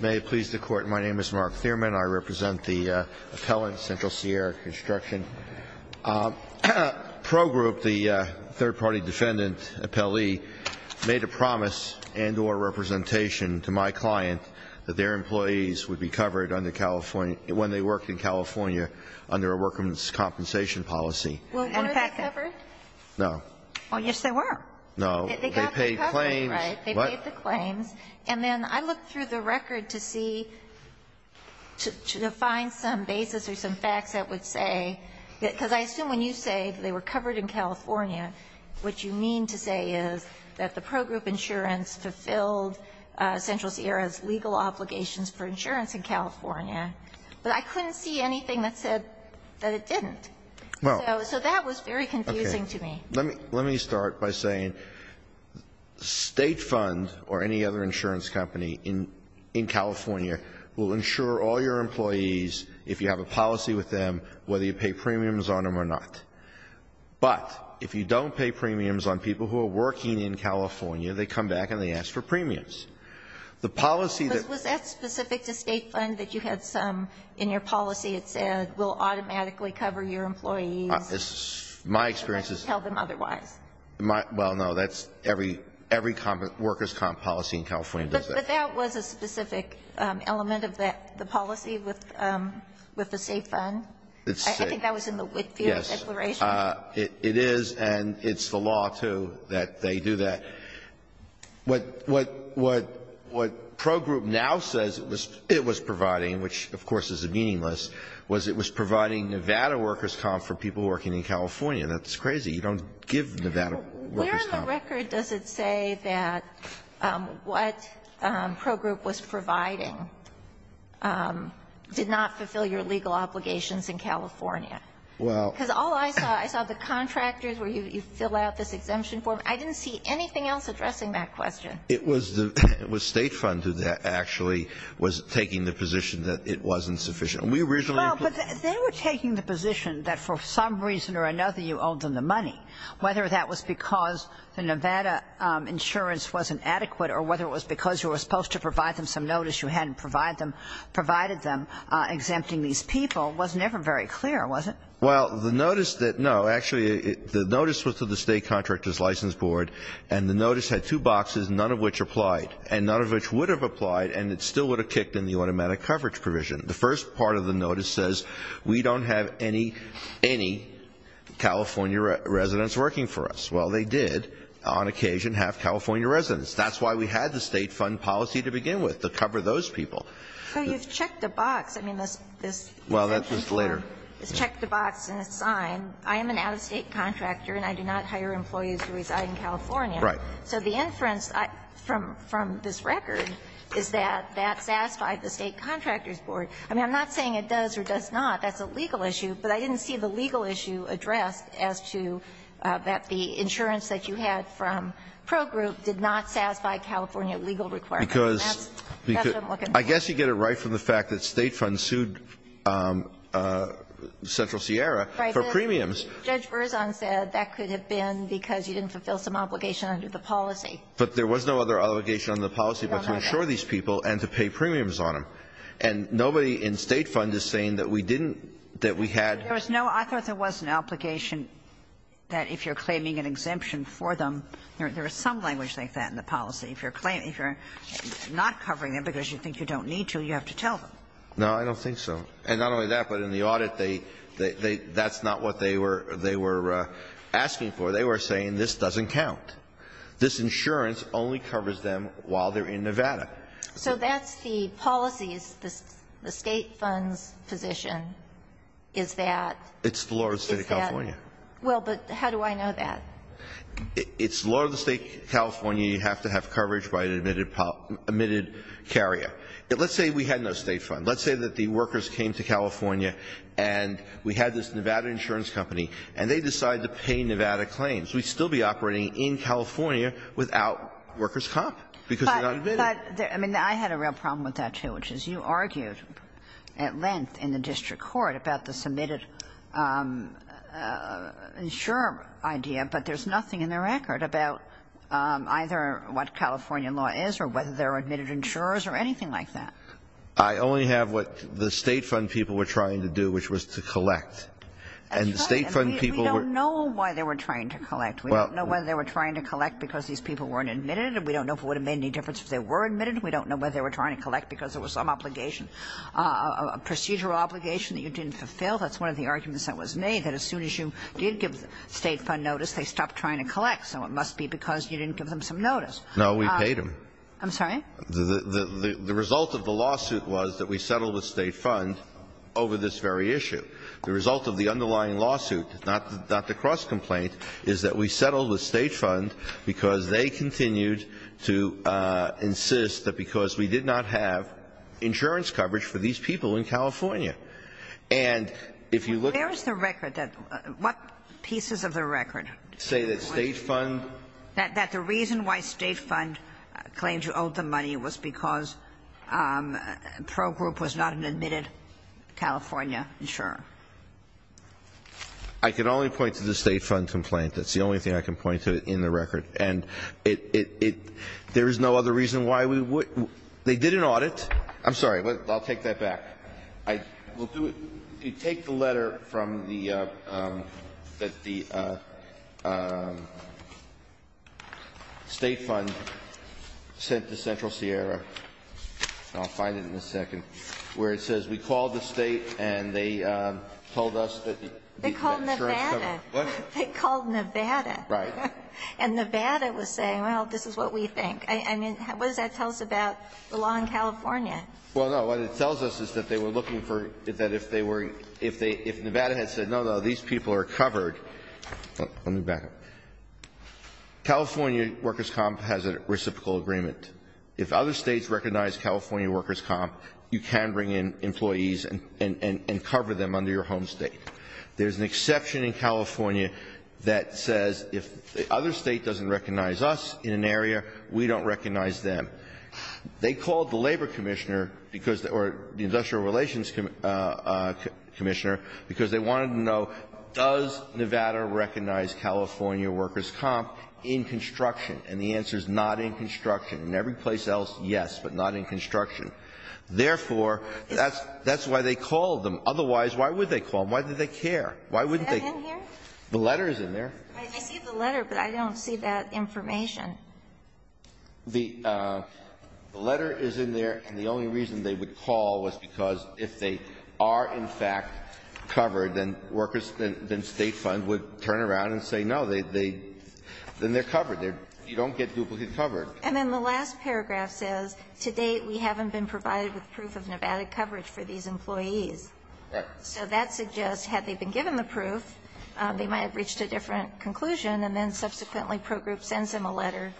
may please the Court. My name is Mark Thierman. I represent the appellant, Central Sierra Construction. Pro Group, the third-party defendant appellee, made a promise and or representation to my client that their employees would be covered under California, when they worked in California, under a workman's compensation policy. Well, were they covered? No. Oh, yes, they were. No. They got the coverage, right? They paid the claims. And then I looked through the record to see, to find some basis or some facts that would say, because I assume when you say they were covered in California, what you mean to say is that the pro group insurance fulfilled Central Sierra's legal obligations for insurance in California. But I couldn't see anything that said that it didn't. So that was very confusing to me. Let me start by saying State Fund or any other insurance company in California will insure all your employees, if you have a policy with them, whether you pay premiums on them or not. But if you don't pay premiums on people who are working in California, they come back and they ask for premiums. The policy that Was that specific to State Fund, that you had some in your policy that said, we'll automatically cover your employees? My experience is... Tell them otherwise. Well, no, that's every workers' comp policy in California does that. But that was a specific element of the policy with the State Fund? I think that was in the Whitfield Declaration. Yes, it is. And it's the law, too, that they do that. What pro group now says it was providing, which, of course, is meaningless, was it was providing Nevada workers' comp for people working in California. That's crazy. You don't give Nevada workers' comp. Where in the record does it say that what pro group was providing did not fulfill your legal obligations in California? Because all I saw, I saw the contractors where you fill out this exemption form. I didn't see anything else addressing that question. It was State Fund who actually was taking the position that it wasn't sufficient. Well, but they were taking the position that for some reason or another you owed them the money, whether that was because the Nevada insurance wasn't adequate or whether it was because you were supposed to provide them some notice you hadn't provided them, exempting these people, was never very clear, was it? Well, the notice that no, actually, the notice was to the State Contractors License Board, and the notice had two boxes, none of which applied, and none of which would have applied, and it still would have kicked in the automatic coverage provision. The first part of the notice says we don't have any, any California residents working for us. Well, they did on occasion have California residents. That's why we had the State Fund policy to begin with, to cover those people. So you've checked the box. I mean, this exemption form. Well, that's just later. It's checked the box and it's signed. I am an out-of-State contractor and I do not hire employees who reside in California. Right. So the inference from this record is that that satisfied the State Contractors Board. I mean, I'm not saying it does or does not. That's a legal issue. But I didn't see the legal issue addressed as to that the insurance that you had from Pro Group did not satisfy California legal requirements. That's what I'm looking for. I guess you get it right from the fact that State Fund sued Central Sierra for premiums. Right. But Judge Berzon said that could have been because you didn't fulfill some obligation under the policy. But there was no other obligation under the policy but to insure these people and to pay premiums on them. And nobody in State Fund is saying that we didn't, that we had. There was no. I thought there was an obligation that if you're claiming an exemption for them, there is some language like that in the policy. If you're not covering them because you think you don't need to, you have to tell them. No, I don't think so. And not only that, but in the audit, that's not what they were asking for. They were saying this doesn't count. This insurance only covers them while they're in Nevada. So that's the policy, the State Fund's position, is that. It's the law of the State of California. Well, but how do I know that? It's the law of the State of California. You have to have coverage by an admitted carrier. Let's say we had no State Fund. Let's say that the workers came to California and we had this Nevada insurance company and they decide to pay Nevada claims. We'd still be operating in California without workers' comp because they're not admitted. But I mean, I had a real problem with that, too, which is you argued at length in the district court about the submitted insurer idea, but there's nothing in the record about either what California law is or whether there are admitted insurers or anything like that. I only have what the State Fund people were trying to do, which was to collect. And the State Fund people were. We don't know why they were trying to collect. We don't know whether they were trying to collect because these people weren't admitted, and we don't know if it would have made any difference if they were admitted. We don't know whether they were trying to collect because there was some obligation a procedural obligation that you didn't fulfill. That's one of the arguments that was made, that as soon as you did give the State Fund notice, they stopped trying to collect. So it must be because you didn't give them some notice. Kennedy. No, we paid them. I'm sorry? The result of the lawsuit was that we settled with State Fund over this very issue. The result of the underlying lawsuit, not the cross-complaint, is that we settled with State Fund because they continued to insist that because we did not have insurance coverage for these people in California. And if you look at the record, what pieces of the record say that State Fund? That the reason why State Fund claimed you owed them money was because Pro Group was not an admitted California insurer. I can only point to the State Fund complaint. That's the only thing I can point to in the record. And there is no other reason why we would they did an audit. I'm sorry. I'll take that back. We'll do it. Take the letter from the that the State Fund sent to Central Sierra. I'll find it in a second. Where it says we called the State and they told us that the insurance coverage They called Nevada. What? They called Nevada. Right. And Nevada was saying, well, this is what we think. I mean, what does that tell us about the law in California? Well, no. What it tells us is that they were looking for, that if they were, if they, if Nevada had said, no, no, these people are covered. Let me back up. California Workers' Comp has a reciprocal agreement. If other States recognize California Workers' Comp, you can bring in employees and cover them under your home State. There's an exception in California that says if the other State doesn't recognize us in an area, we don't recognize them. They called the Labor Commissioner because, or the Industrial Relations Commissioner because they wanted to know does Nevada recognize California Workers' Comp in construction? And the answer is not in construction. In every place else, yes, but not in construction. Therefore, that's why they called them. Otherwise, why would they call them? Why do they care? Why wouldn't they? Is that in here? The letter is in there. I see the letter, but I don't see that information. The letter is in there, and the only reason they would call was because if they are, in fact, covered, then workers, then State funds would turn around and say, no, they then they're covered. You don't get duplicate cover. And then the last paragraph says, To date, we haven't been provided with proof of Nevada coverage for these employees. Right. So that suggests had they been given the proof, they might have reached a different conclusion, and then subsequently Pro Group sends them a letter.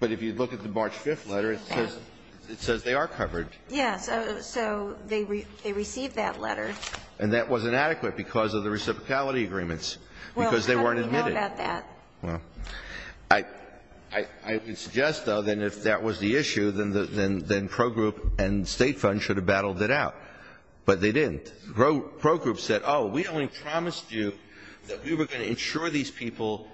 But if you look at the March 5th letter, it says they are covered. Yes. So they received that letter. And that was inadequate because of the reciprocality agreements, because they weren't admitted. Well, how do we know about that? Well, I would suggest, though, that if that was the issue, then Pro Group and State funds should have battled it out. But they didn't. Pro Group said, oh, we only promised you that we were going to insure these people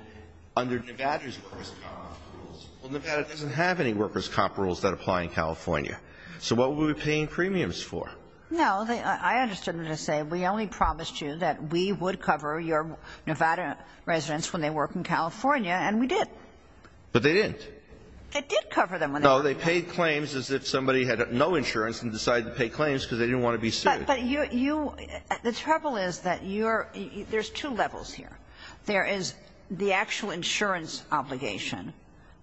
under Nevada's workers' comp rules. Well, Nevada doesn't have any workers' comp rules that apply in California. So what were we paying premiums for? No. I understood them to say, we only promised you that we would cover your Nevada residents when they work in California, and we did. But they didn't. They did cover them. No. They paid claims as if somebody had no insurance and decided to pay claims because they didn't want to be sued. But you you the trouble is that you're there's two levels here. There is the actual insurance obligation,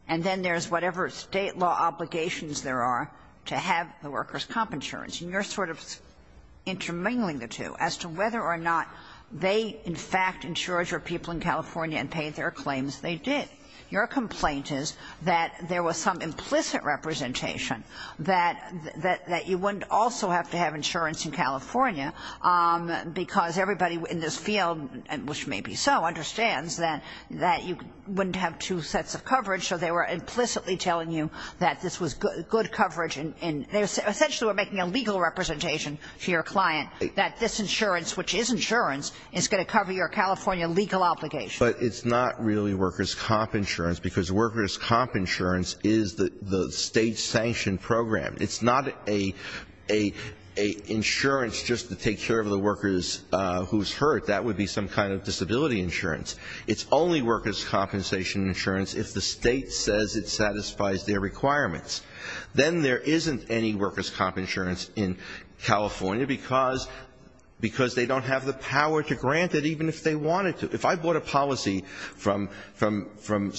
and then there's whatever State law obligations there are to have the workers' comp insurance. And you're sort of intermingling the two as to whether or not they in fact insured people in California and paid their claims. They did. Your complaint is that there was some implicit representation that you wouldn't also have to have insurance in California because everybody in this field, which may be so, understands that you wouldn't have two sets of coverage. So they were implicitly telling you that this was good coverage. They essentially were making a legal representation to your client that this insurance, which is insurance, is going to cover your California legal obligation. But it's not really workers' comp insurance because workers' comp insurance is the State's sanctioned program. It's not an insurance just to take care of the workers who's hurt. That would be some kind of disability insurance. It's only workers' compensation insurance if the State says it satisfies their requirements. Then there isn't any workers' comp insurance in California because they don't have the power to grant it even if they wanted to. If I bought a policy from some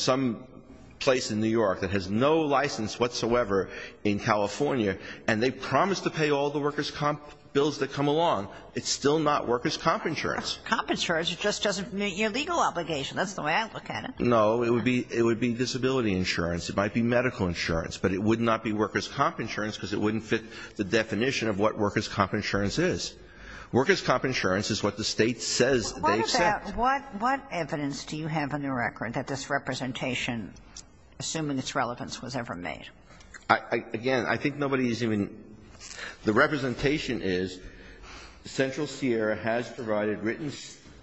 place in New York that has no license whatsoever in California and they promised to pay all the workers' comp bills that come along, it's still not workers' comp insurance. Comp insurance just doesn't meet your legal obligation. That's the way I look at it. No. It would be disability insurance. It might be medical insurance. But it would not be workers' comp insurance because it wouldn't fit the definition of what workers' comp insurance is. Workers' comp insurance is what the State says they've set. What about what evidence do you have in the record that this representation, assuming its relevance, was ever made? Again, I think nobody's even the representation is Central Sierra has provided written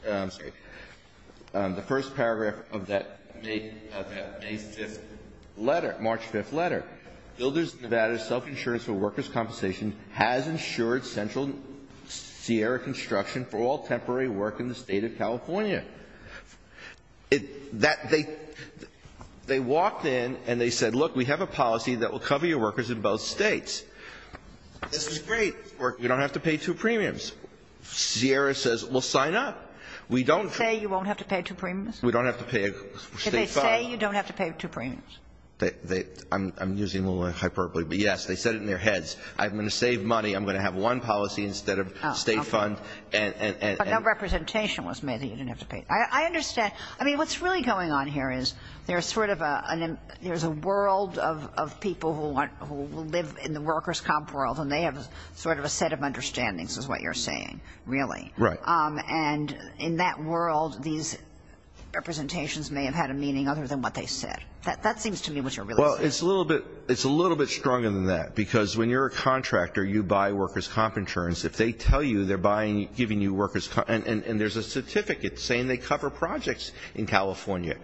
the first paragraph of that May 5th letter, March 5th letter. Builders of Nevada's self-insurance for workers' compensation has insured Central Sierra construction for all temporary work in the State of California. They walked in and they said, look, we have a policy that will cover your workers in both States. This is great. You don't have to pay two premiums. Sierra says, well, sign up. We don't. Say you won't have to pay two premiums? We don't have to pay a State fund. Can they say you don't have to pay two premiums? I'm using a little hyperbole. But, yes, they said it in their heads. I'm going to save money. I'm going to have one policy instead of a State fund. But no representation was made that you didn't have to pay. I understand. I mean, what's really going on here is there's sort of a world of people who live in the workers' comp world and they have sort of a set of understandings is what you're saying, really. Right. And in that world, these representations may have had a meaning other than what they said. That seems to me what you're really saying. Well, it's a little bit stronger than that because when you're a contractor, you buy workers' comp insurance. If they tell you they're giving you workers' comp, and there's a certificate saying they cover projects in California.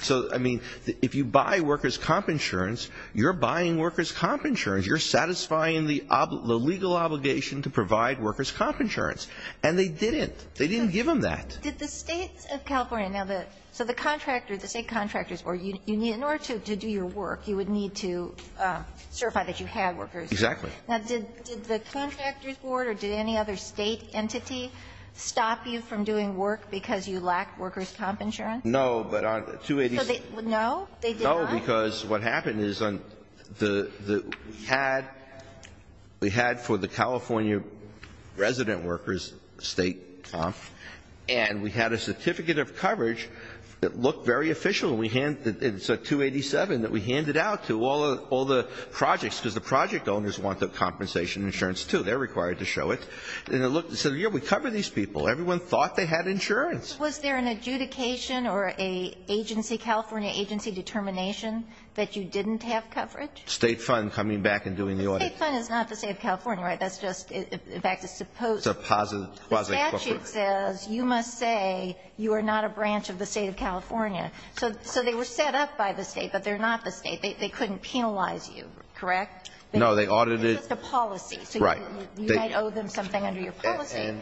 So, I mean, if you buy workers' comp insurance, you're buying workers' comp insurance. You're satisfying the legal obligation to provide workers' comp insurance. And they didn't. They didn't give them that. Did the State of California now the so the contractor, the State Contractors Board, in order to do your work, you would need to certify that you had workers. Exactly. Now, did the Contractors Board or did any other State entity stop you from doing work because you lacked workers' comp insurance? No, but on 287. No? They did not? No, because what happened is we had for the California resident workers' State comp, and we had a certificate of coverage that looked very official. It's a 287 that we handed out to all the projects because the project owners want the compensation insurance, too. They're required to show it. And it said, yeah, we cover these people. Everyone thought they had insurance. Was there an adjudication or a California agency determination that you didn't have coverage? State fund coming back and doing the audit. The State fund is not the State of California, right? That's just, in fact, a supposed. It's a quasi-coverage. The statute says you must say you are not a branch of the State of California. So they were set up by the State, but they're not the State. They couldn't penalize you, correct? No, they audited. It's just a policy. Right. So you might owe them something under your policy.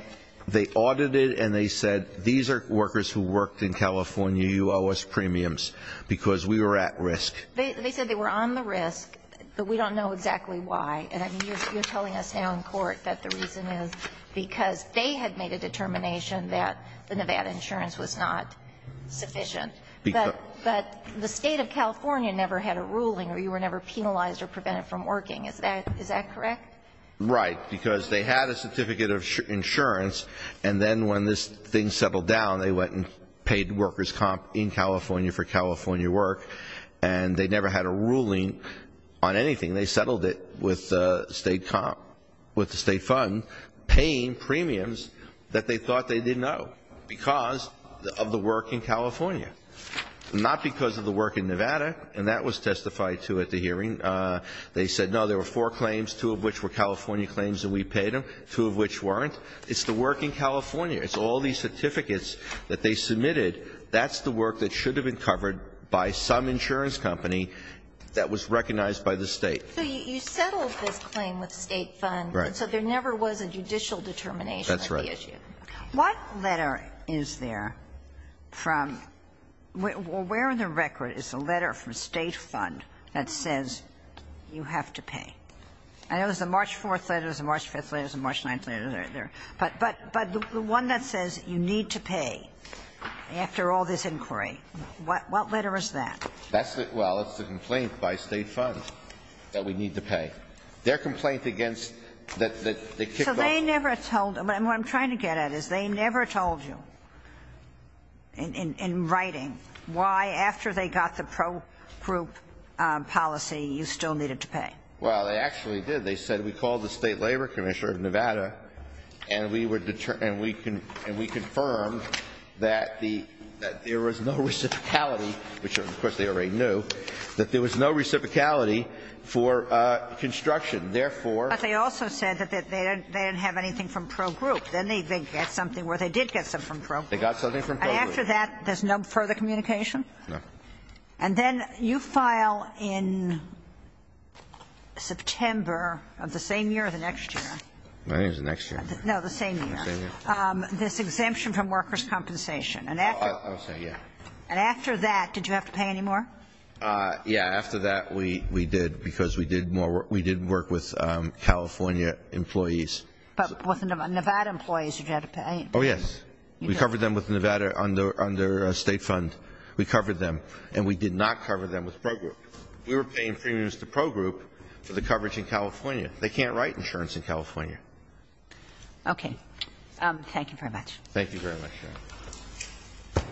They audited and they said, these are workers who worked in California. You owe us premiums because we were at risk. They said they were on the risk, but we don't know exactly why. And you're telling us now in court that the reason is because they had made a determination that the Nevada insurance was not sufficient. But the State of California never had a ruling or you were never penalized or prevented from working. Is that correct? Right. Because they had a certificate of insurance, and then when this thing settled down, they went and paid workers' comp in California for California work, and they never had a ruling on anything. They settled it with the State comp, with the State fund, paying premiums that they thought they didn't owe because of the work in California, not because of the work in Nevada, and that was testified to at the hearing. And they said, no, there were four claims, two of which were California claims and we paid them, two of which weren't. It's the work in California. It's all these certificates that they submitted. That's the work that should have been covered by some insurance company that was recognized by the State. So you settled this claim with the State fund. Right. So there never was a judicial determination of the issue. That's right. What letter is there from where in the record is a letter from State fund that says you have to pay? I know there's a March 4th letter, there's a March 5th letter, there's a March 9th letter there. But the one that says you need to pay after all this inquiry, what letter is that? That's the – well, it's the complaint by State fund that we need to pay. Their complaint against the kickoff. So they never told – what I'm trying to get at is they never told you in writing why after they got the pro-group policy you still needed to pay. Well, they actually did. They said we called the State Labor Commissioner of Nevada and we confirmed that there was no reciprocality, which of course they already knew, that there was no reciprocality for construction. Therefore – But they also said that they didn't have anything from pro-group. Then they did get something from pro-group. They got something from pro-group. And after that there's no further communication? No. And then you file in September of the same year or the next year? I think it was the next year. No, the same year. The same year. This exemption from workers' compensation. I would say, yeah. And after that, did you have to pay any more? Yeah, after that we did because we did more – we did work with California employees. But with Nevada employees you had to pay? Oh, yes. We covered them with Nevada under a state fund. We covered them. And we did not cover them with pro-group. We were paying premiums to pro-group for the coverage in California. They can't write insurance in California. Okay. Thank you very much. Thank you very much, Your Honor.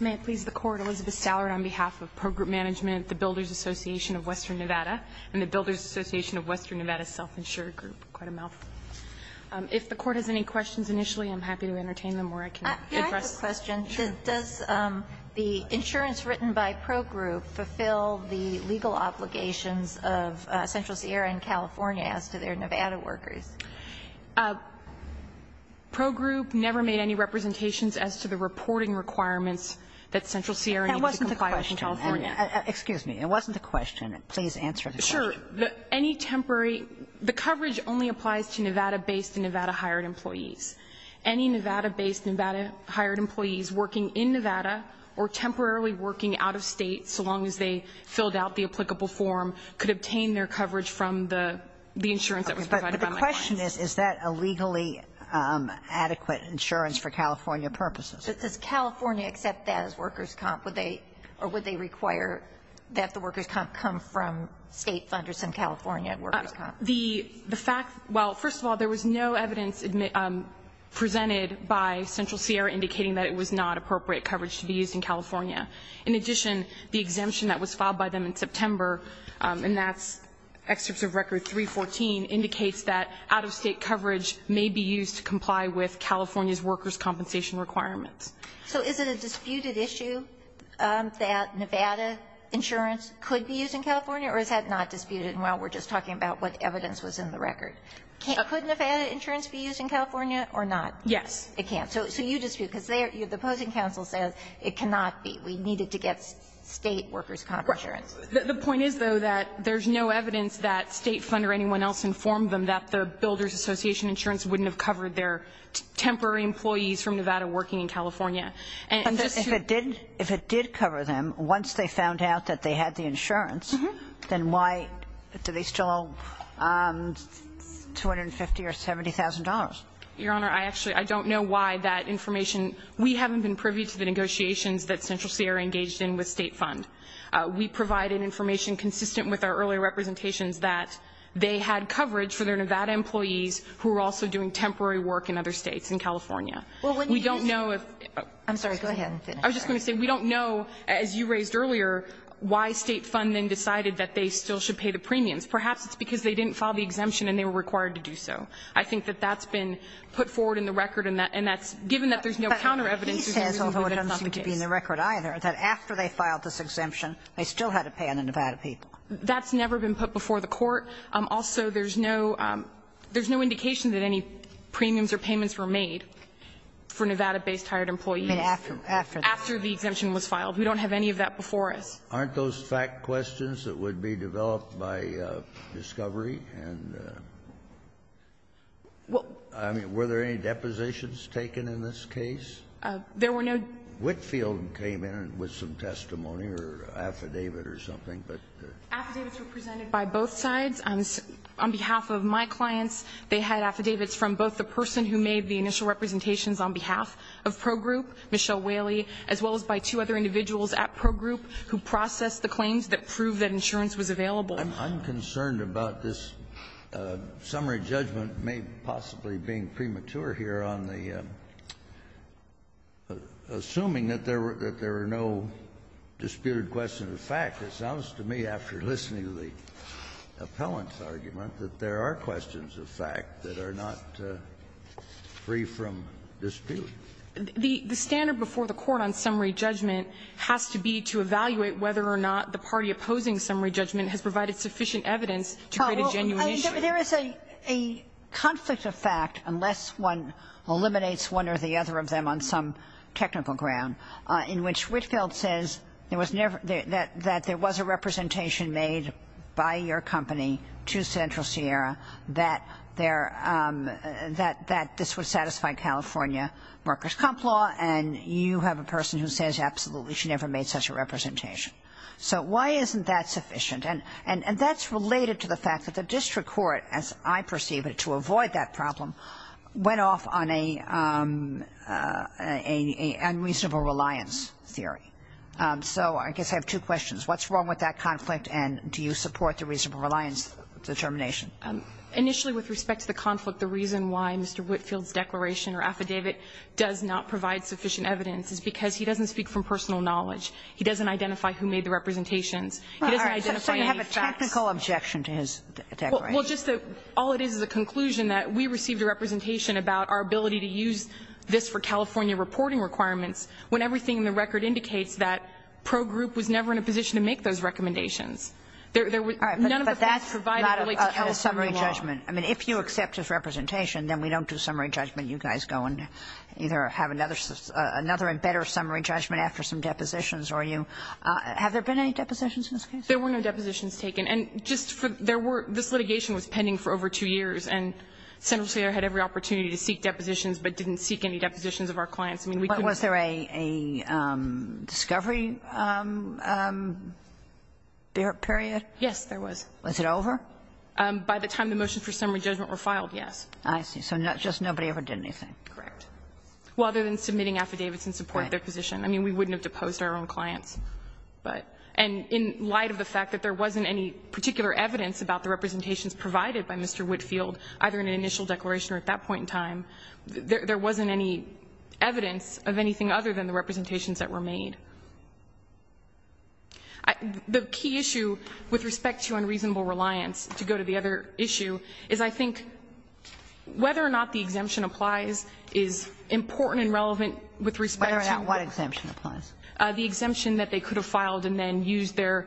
May it please the Court, Elizabeth Stallard on behalf of pro-group management at the Builders Association of Western Nevada and the Builders Association of Western Nevada Self-Insured Group. Quite a mouthful. If the Court has any questions initially, I'm happy to entertain them or I can address them. Can I ask a question? Sure. Does the insurance written by pro-group fulfill the legal obligations of Central Sierra and California as to their Nevada workers? Pro-group never made any representations as to the reporting requirements that Central Sierra needs to comply with in California. That wasn't the question. Excuse me. It wasn't the question. Please answer the question. Sure. Any temporary the coverage only applies to Nevada-based and Nevada-hired employees. Any Nevada-based and Nevada-hired employees working in Nevada or temporarily working out of State, so long as they filled out the applicable form, could obtain their coverage from the insurance that was provided by my client. But the question is, is that a legally adequate insurance for California purposes? Does California accept that as workers' comp, or would they require that the workers' comp come from State funders in California at workers' comp? The fact, well, first of all, there was no evidence presented by Central Sierra indicating that it was not appropriate coverage to be used in California. In addition, the exemption that was filed by them in September, and that's excerpts of Record 314, indicates that out-of-State coverage may be used to comply with California's workers' compensation requirements. So is it a disputed issue that Nevada insurance could be used in California, or is that not disputed while we're just talking about what evidence was in the record? Could Nevada insurance be used in California or not? Yes. It can't. So you dispute, because the opposing counsel says it cannot be. We need it to get State workers' comp insurance. The point is, though, that there's no evidence that State funder or anyone else informed them that their Builders Association insurance wouldn't have covered their temporary employees from Nevada working in California. If it did cover them once they found out that they had the insurance, then why do they still owe $250,000 or $70,000? Your Honor, I actually don't know why that information. We haven't been privy to the negotiations that Central Sierra engaged in with State fund. We provided information consistent with our earlier representations that they had temporary work in other States in California. We don't know if – I'm sorry. Go ahead and finish. I was just going to say, we don't know, as you raised earlier, why State fund then decided that they still should pay the premiums. Perhaps it's because they didn't file the exemption and they were required to do so. I think that that's been put forward in the record, and that's – given that there's no counter evidence, there's no reason to believe it's not the case. But he says, although it doesn't seem to be in the record either, that after they filed this exemption, they still had to pay on the Nevada people. That's never been put before the Court. Also, there's no indication that any premiums or payments were made for Nevada-based hired employees. After the exemption was filed. We don't have any of that before us. Aren't those fact questions that would be developed by Discovery? And, I mean, were there any depositions taken in this case? There were no – Whitfield came in with some testimony or affidavit or something, but – The affidavits were presented by both sides. On behalf of my clients, they had affidavits from both the person who made the initial representations on behalf of Pro Group, Michelle Whaley, as well as by two other individuals at Pro Group who processed the claims that proved that insurance was available. I'm concerned about this summary judgment possibly being premature here on the – assuming that there were no disputed questions. The fact, it sounds to me, after listening to the appellant's argument, that there are questions of fact that are not free from dispute. The standard before the Court on summary judgment has to be to evaluate whether or not the party opposing summary judgment has provided sufficient evidence to create a genuine issue. There is a conflict of fact, unless one eliminates one or the other of them on some technical ground, in which Whitfield says there was never – that there was a representation made by your company to Central Sierra that there – that this would satisfy California workers' comp law, and you have a person who says absolutely she never made such a representation. So why isn't that sufficient? And that's related to the fact that the district court, as I perceive it, to avoid that problem, went off on a unreasonable reliance theory. So I guess I have two questions. What's wrong with that conflict, and do you support the reasonable reliance determination? Initially, with respect to the conflict, the reason why Mr. Whitfield's declaration or affidavit does not provide sufficient evidence is because he doesn't speak from personal knowledge. He doesn't identify who made the representations. He doesn't identify any facts. So you have a technical objection to his declaration? Well, just that all it is is a conclusion that we received a representation about our ability to use this for California reporting requirements when everything in the record indicates that Pro Group was never in a position to make those recommendations. There was none of the facts provided related to California law. All right. But that's not a summary judgment. I mean, if you accept his representation, then we don't do summary judgment. You guys go and either have another and better summary judgment after some depositions or you – have there been any depositions in this case? There were no depositions taken. And just for – there were – this litigation was pending for over two years, and Senator Slater had every opportunity to seek depositions, but didn't seek any depositions of our clients. I mean, we couldn't have – But was there a discovery period? Yes, there was. Was it over? By the time the motions for summary judgment were filed, yes. I see. So just nobody ever did anything. Correct. Well, other than submitting affidavits in support of their position. Right. I mean, we wouldn't have deposed our own clients, but – and in light of the fact that there wasn't any particular evidence about the representations provided by Mr. Whitfield, either in an initial declaration or at that point in time, there wasn't any evidence of anything other than the representations that were made. The key issue with respect to unreasonable reliance, to go to the other issue, is I think whether or not the exemption applies is important and relevant with respect to – Whether or not what exemption applies? The exemption that they could have filed and then used their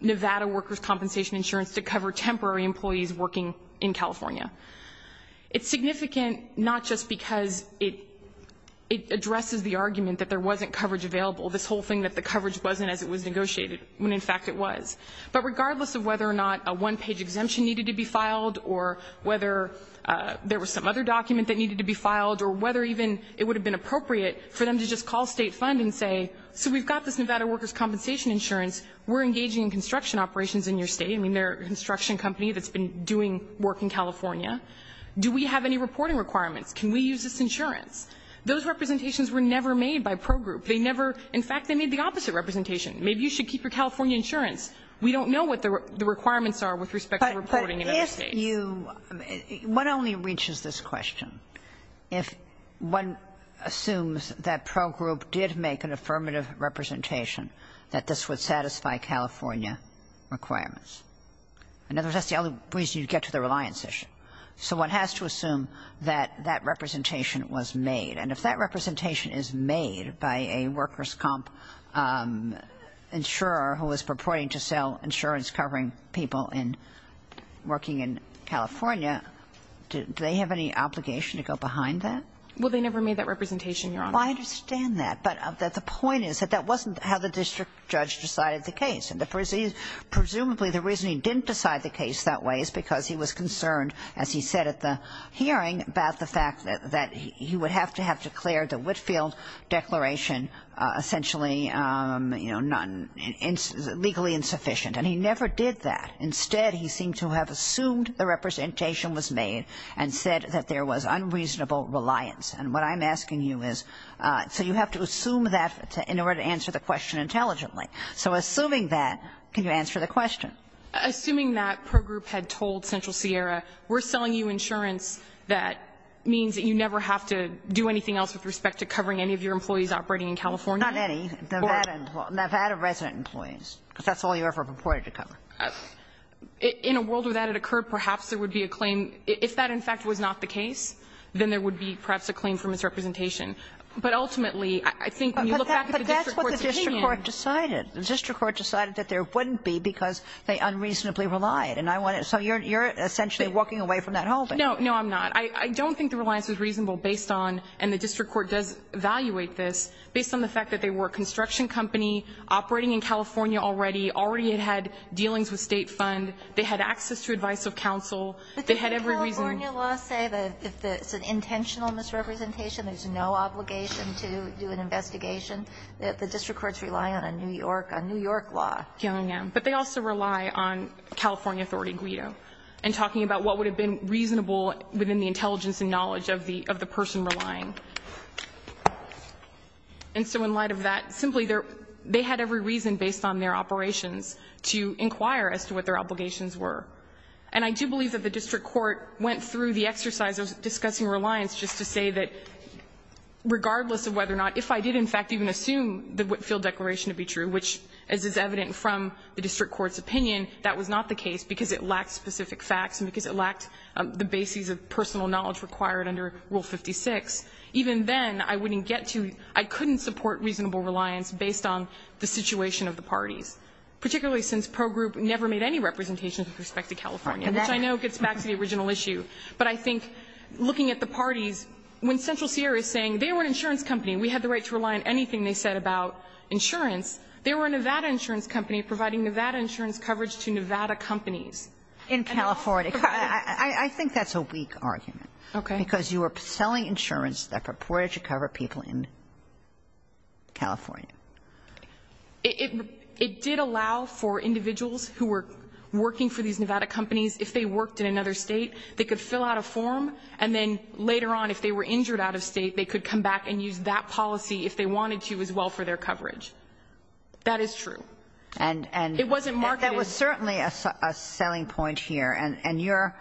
Nevada workers' compensation insurance to cover temporary employees working in California. It's significant not just because it addresses the argument that there wasn't coverage available, this whole thing that the coverage wasn't as it was negotiated when, in fact, it was, but regardless of whether or not a one-page exemption needed to be filed or whether there was some other document that needed to be filed or whether even it would have been appropriate for them to just call State fund and say, so we've got this Nevada workers' compensation insurance. We're engaging in construction operations in your State. I mean, they're a construction company that's been doing work in California. Do we have any reporting requirements? Can we use this insurance? Those representations were never made by Pro Group. They never – in fact, they made the opposite representation. Maybe you should keep your California insurance. We don't know what the requirements are with respect to reporting in other States. One only reaches this question if one assumes that Pro Group did make an affirmative representation that this would satisfy California requirements. In other words, that's the only reason you get to the reliance issue. So one has to assume that that representation was made. And if that representation is made by a workers' comp insurer who is purporting to sell insurance covering people working in California, do they have any obligation to go behind that? Well, they never made that representation, Your Honor. Well, I understand that. But the point is that that wasn't how the district judge decided the case. Presumably the reason he didn't decide the case that way is because he was concerned, as he said at the hearing, about the fact that he would have to have declared the Whitefield Declaration essentially, you know, legally insufficient. And he never did that. Instead, he seemed to have assumed the representation was made and said that there was unreasonable reliance. And what I'm asking you is, so you have to assume that in order to answer the question intelligently. So assuming that, can you answer the question? Assuming that Pro Group had told Central Sierra, we're selling you insurance that means that you never have to do anything else with respect to covering any of your employees operating in California? Not any. Nevada resident employees, because that's all you ever purported to cover. In a world where that had occurred, perhaps there would be a claim. If that, in fact, was not the case, then there would be perhaps a claim for misrepresentation. But ultimately, I think when you look back at the district court's opinion. But that's what the district court decided. The district court decided that there wouldn't be because they unreasonably relied. And I want to, so you're essentially walking away from that whole thing. No, no, I'm not. I don't think the reliance was reasonable based on, and the district court does evaluate this, based on the fact that they were a construction company operating in California already, already had had dealings with State Fund. They had access to advice of counsel. They had every reason. But didn't the California law say that if it's an intentional misrepresentation, there's no obligation to do an investigation? The district courts rely on a New York, a New York law. But they also rely on California authority guido and talking about what would have been reasonable within the intelligence and knowledge of the person relying. And so in light of that, simply, they had every reason based on their operations to inquire as to what their obligations were. And I do believe that the district court went through the exercise of discussing reliance just to say that regardless of whether or not, if I did, in fact, even assume the Whitfield Declaration to be true, which, as is evident from the district court's opinion, that was not the case because it lacked specific facts and because it lacked the bases of personal knowledge required under Rule 56. Even then, I wouldn't get to, I couldn't support reasonable reliance based on the situation of the parties, particularly since Pro Group never made any representations with respect to California, which I know gets back to the original issue. But I think looking at the parties, when Central Sierra is saying they were an insurance company, we had the right to rely on anything they said about insurance, they were a Nevada insurance company providing Nevada insurance coverage to Nevada companies. Kagan in California. I think that's a weak argument. Okay. Because you were selling insurance that purported to cover people in California. It did allow for individuals who were working for these Nevada companies, if they worked in another State, they could fill out a form, and then later on, if they were wanted to as well for their coverage. That is true. It wasn't marketed. And that was certainly a selling point here. And your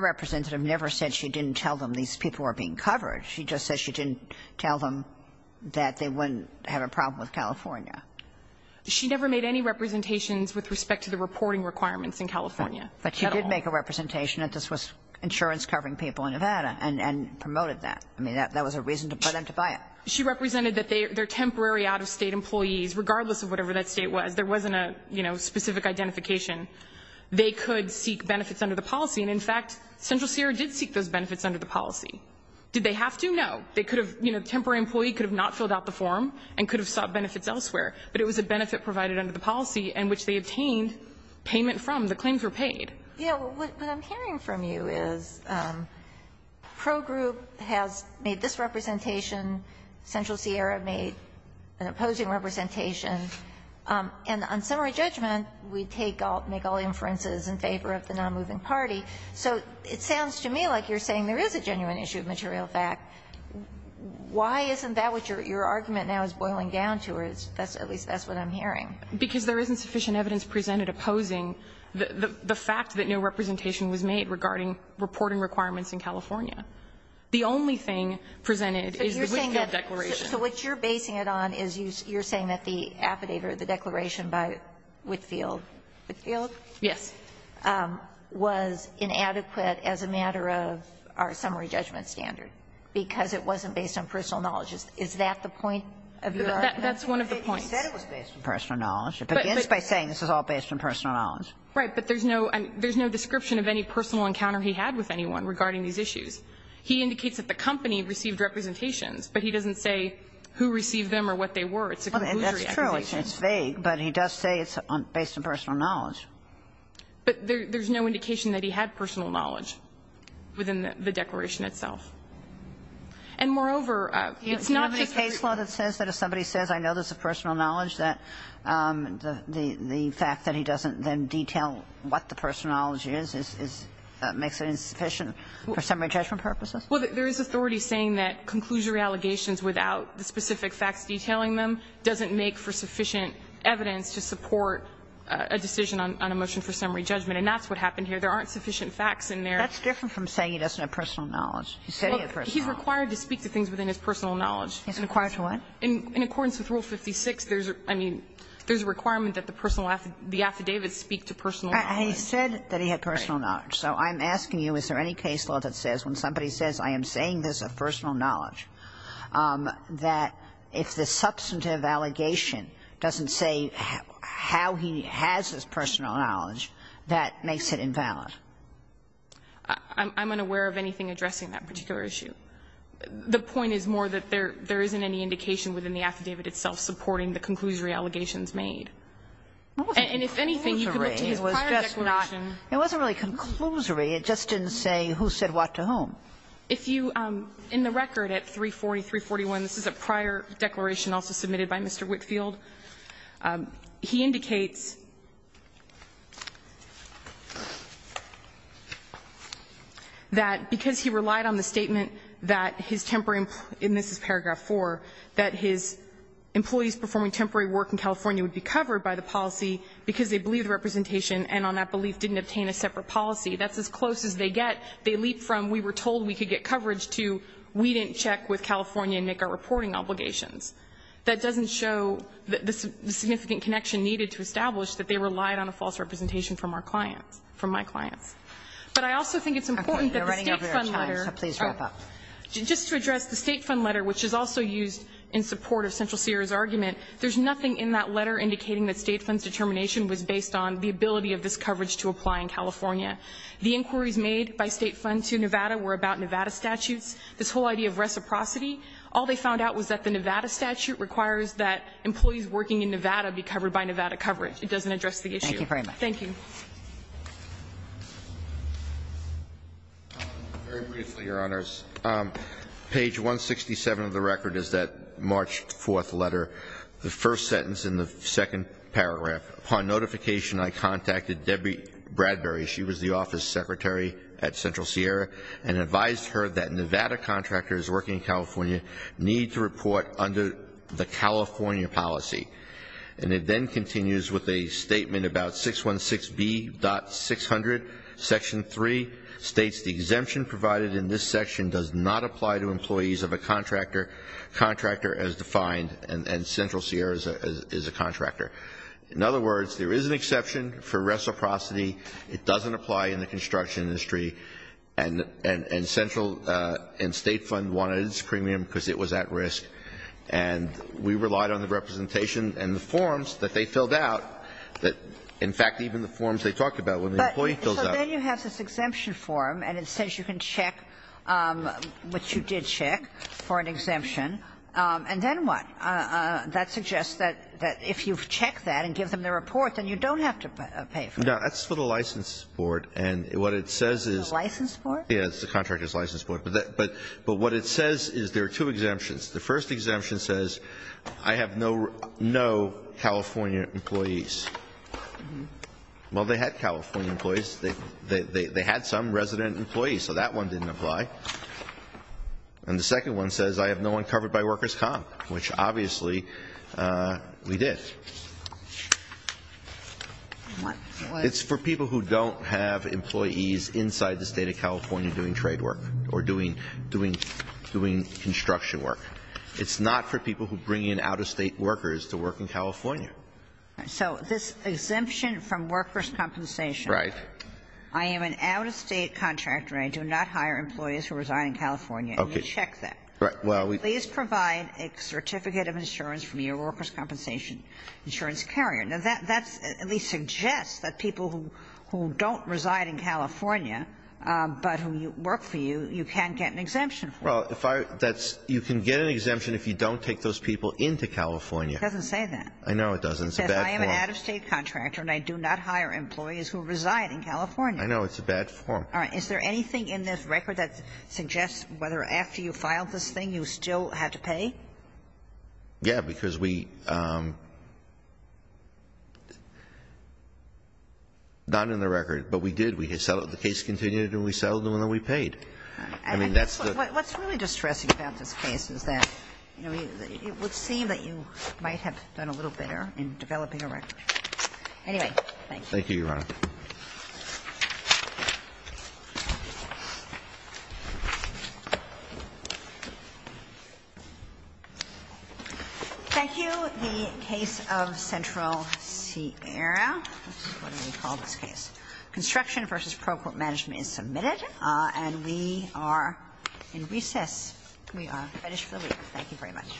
representative never said she didn't tell them these people were being covered. She just said she didn't tell them that they wouldn't have a problem with California. She never made any representations with respect to the reporting requirements in California at all. But she did make a representation that this was insurance covering people in Nevada and promoted that. I mean, that was a reason for them to buy it. She represented that their temporary out-of-State employees, regardless of whatever that State was, there wasn't a, you know, specific identification, they could seek benefits under the policy. And in fact, Central Sierra did seek those benefits under the policy. Did they have to? No. They could have, you know, temporary employee could have not filled out the form and could have sought benefits elsewhere. But it was a benefit provided under the policy in which they obtained payment from. The claims were paid. Yeah. What I'm hearing from you is Pro Group has made this representation. Central Sierra made an opposing representation. And on summary judgment, we take all, make all inferences in favor of the nonmoving party. So it sounds to me like you're saying there is a genuine issue of material fact. Why isn't that what your argument now is boiling down to? Or at least that's what I'm hearing. Because there isn't sufficient evidence presented opposing. The fact that no representation was made regarding reporting requirements in California. The only thing presented is the Whitfield Declaration. So what you're basing it on is you're saying that the affidavit or the declaration by Whitfield, Whitfield? Yes. Was inadequate as a matter of our summary judgment standard, because it wasn't based on personal knowledge. Is that the point of your argument? That's one of the points. You said it was based on personal knowledge. It begins by saying this is all based on personal knowledge. Right. But there's no, there's no description of any personal encounter he had with anyone regarding these issues. He indicates that the company received representations, but he doesn't say who received them or what they were. It's a conclusionary accusation. That's true. It's vague. But he does say it's based on personal knowledge. But there's no indication that he had personal knowledge within the declaration itself. And moreover, it's not just a case law that says that if somebody says I know this is based on personal knowledge, that the fact that he doesn't then detail what the personal knowledge is, is, makes it insufficient for summary judgment purposes? Well, there is authority saying that conclusionary allegations without the specific facts detailing them doesn't make for sufficient evidence to support a decision on a motion for summary judgment, and that's what happened here. There aren't sufficient facts in there. That's different from saying he doesn't have personal knowledge. He said he had personal knowledge. Well, he's required to speak to things within his personal knowledge. He's required to what? In accordance with Rule 56, there's a requirement that the affidavits speak to personal knowledge. He said that he had personal knowledge. So I'm asking you, is there any case law that says when somebody says I am saying this of personal knowledge, that if the substantive allegation doesn't say how he has his personal knowledge, that makes it invalid? I'm unaware of anything addressing that particular issue. The point is more that there isn't any indication within the affidavit itself supporting the conclusionary allegations made. And if anything, you can look to his prior declaration. It wasn't really conclusionary. It just didn't say who said what to whom. If you, in the record at 340, 341, this is a prior declaration also submitted by Mr. Whitfield. He indicates that because he relied on the statement that his temporary employee and this is paragraph 4, that his employees performing temporary work in California would be covered by the policy because they believed the representation and on that belief didn't obtain a separate policy. That's as close as they get. They leap from we were told we could get coverage to we didn't check with California and make our reporting obligations. That doesn't show the significant connection needed to establish that they relied on a false representation from our clients, from my clients. But I also think it's important that the State Fund letter. Kagan. You're running over your time, so please wrap up. Just to address the State Fund letter, which is also used in support of Central Sierra's argument, there's nothing in that letter indicating that State Fund's determination was based on the ability of this coverage to apply in California. The inquiries made by State Fund to Nevada were about Nevada statutes, this whole idea of reciprocity. All they found out was that the Nevada statute requires that employees working in Nevada be covered by Nevada coverage. It doesn't address the issue. Thank you very much. Thank you. Very briefly, Your Honors. Page 167 of the record is that March 4th letter. The first sentence in the second paragraph. Upon notification, I contacted Debbie Bradbury. She was the office secretary at Central Sierra and advised her that Nevada contractors working in California need to report under the California policy. And it then continues with a statement about 616B.600, Section 3, states the exemption provided in this section does not apply to employees of a contractor, contractor as defined, and Central Sierra is a contractor. In other words, there is an exception for reciprocity. It doesn't apply in the construction industry. And Central and State Fund wanted its premium because it was at risk. And we relied on the representation and the forms that they filled out that, in fact, even the forms they talked about when the employee fills out. So then you have this exemption form, and it says you can check what you did check for an exemption. And then what? That suggests that if you've checked that and give them the report, then you don't have to pay for it. No. That's for the license board. And what it says is the license board. Yeah, it's the contractor's license board. But what it says is there are two exemptions. The first exemption says I have no California employees. Well, they had California employees. They had some resident employees. So that one didn't apply. And the second one says I have no one covered by workers' comp, which obviously we did. What? It's for people who don't have employees inside the State of California doing trade work or doing construction work. It's not for people who bring in out-of-State workers to work in California. So this exemption from workers' compensation. Right. I am an out-of-State contractor, and I do not hire employees who reside in California. Okay. And you check that. Right. Well, we do. Please provide a certificate of insurance from your workers' compensation insurance carrier. Now, that's at least suggests that people who don't reside in California, but who work for you, you can't get an exemption for. Well, that's you can get an exemption if you don't take those people into California. It doesn't say that. I know it doesn't. It's a bad form. It says I am an out-of-State contractor, and I do not hire employees who reside in California. I know. It's a bad form. All right. Is there anything in this record that suggests whether after you filed this thing you still had to pay? Yeah, because we not in the record, but we did. We had settled. The case continued, and we settled, and then we paid. I mean, that's the What's really distressing about this case is that it would seem that you might have done a little better in developing a record. Anyway, thank you. Thank you, Your Honor. Thank you. The case of Central Sierra. This is what we call this case. Construction v. Procourt Management is submitted, and we are in recess. We are finished for the week. Thank you very much.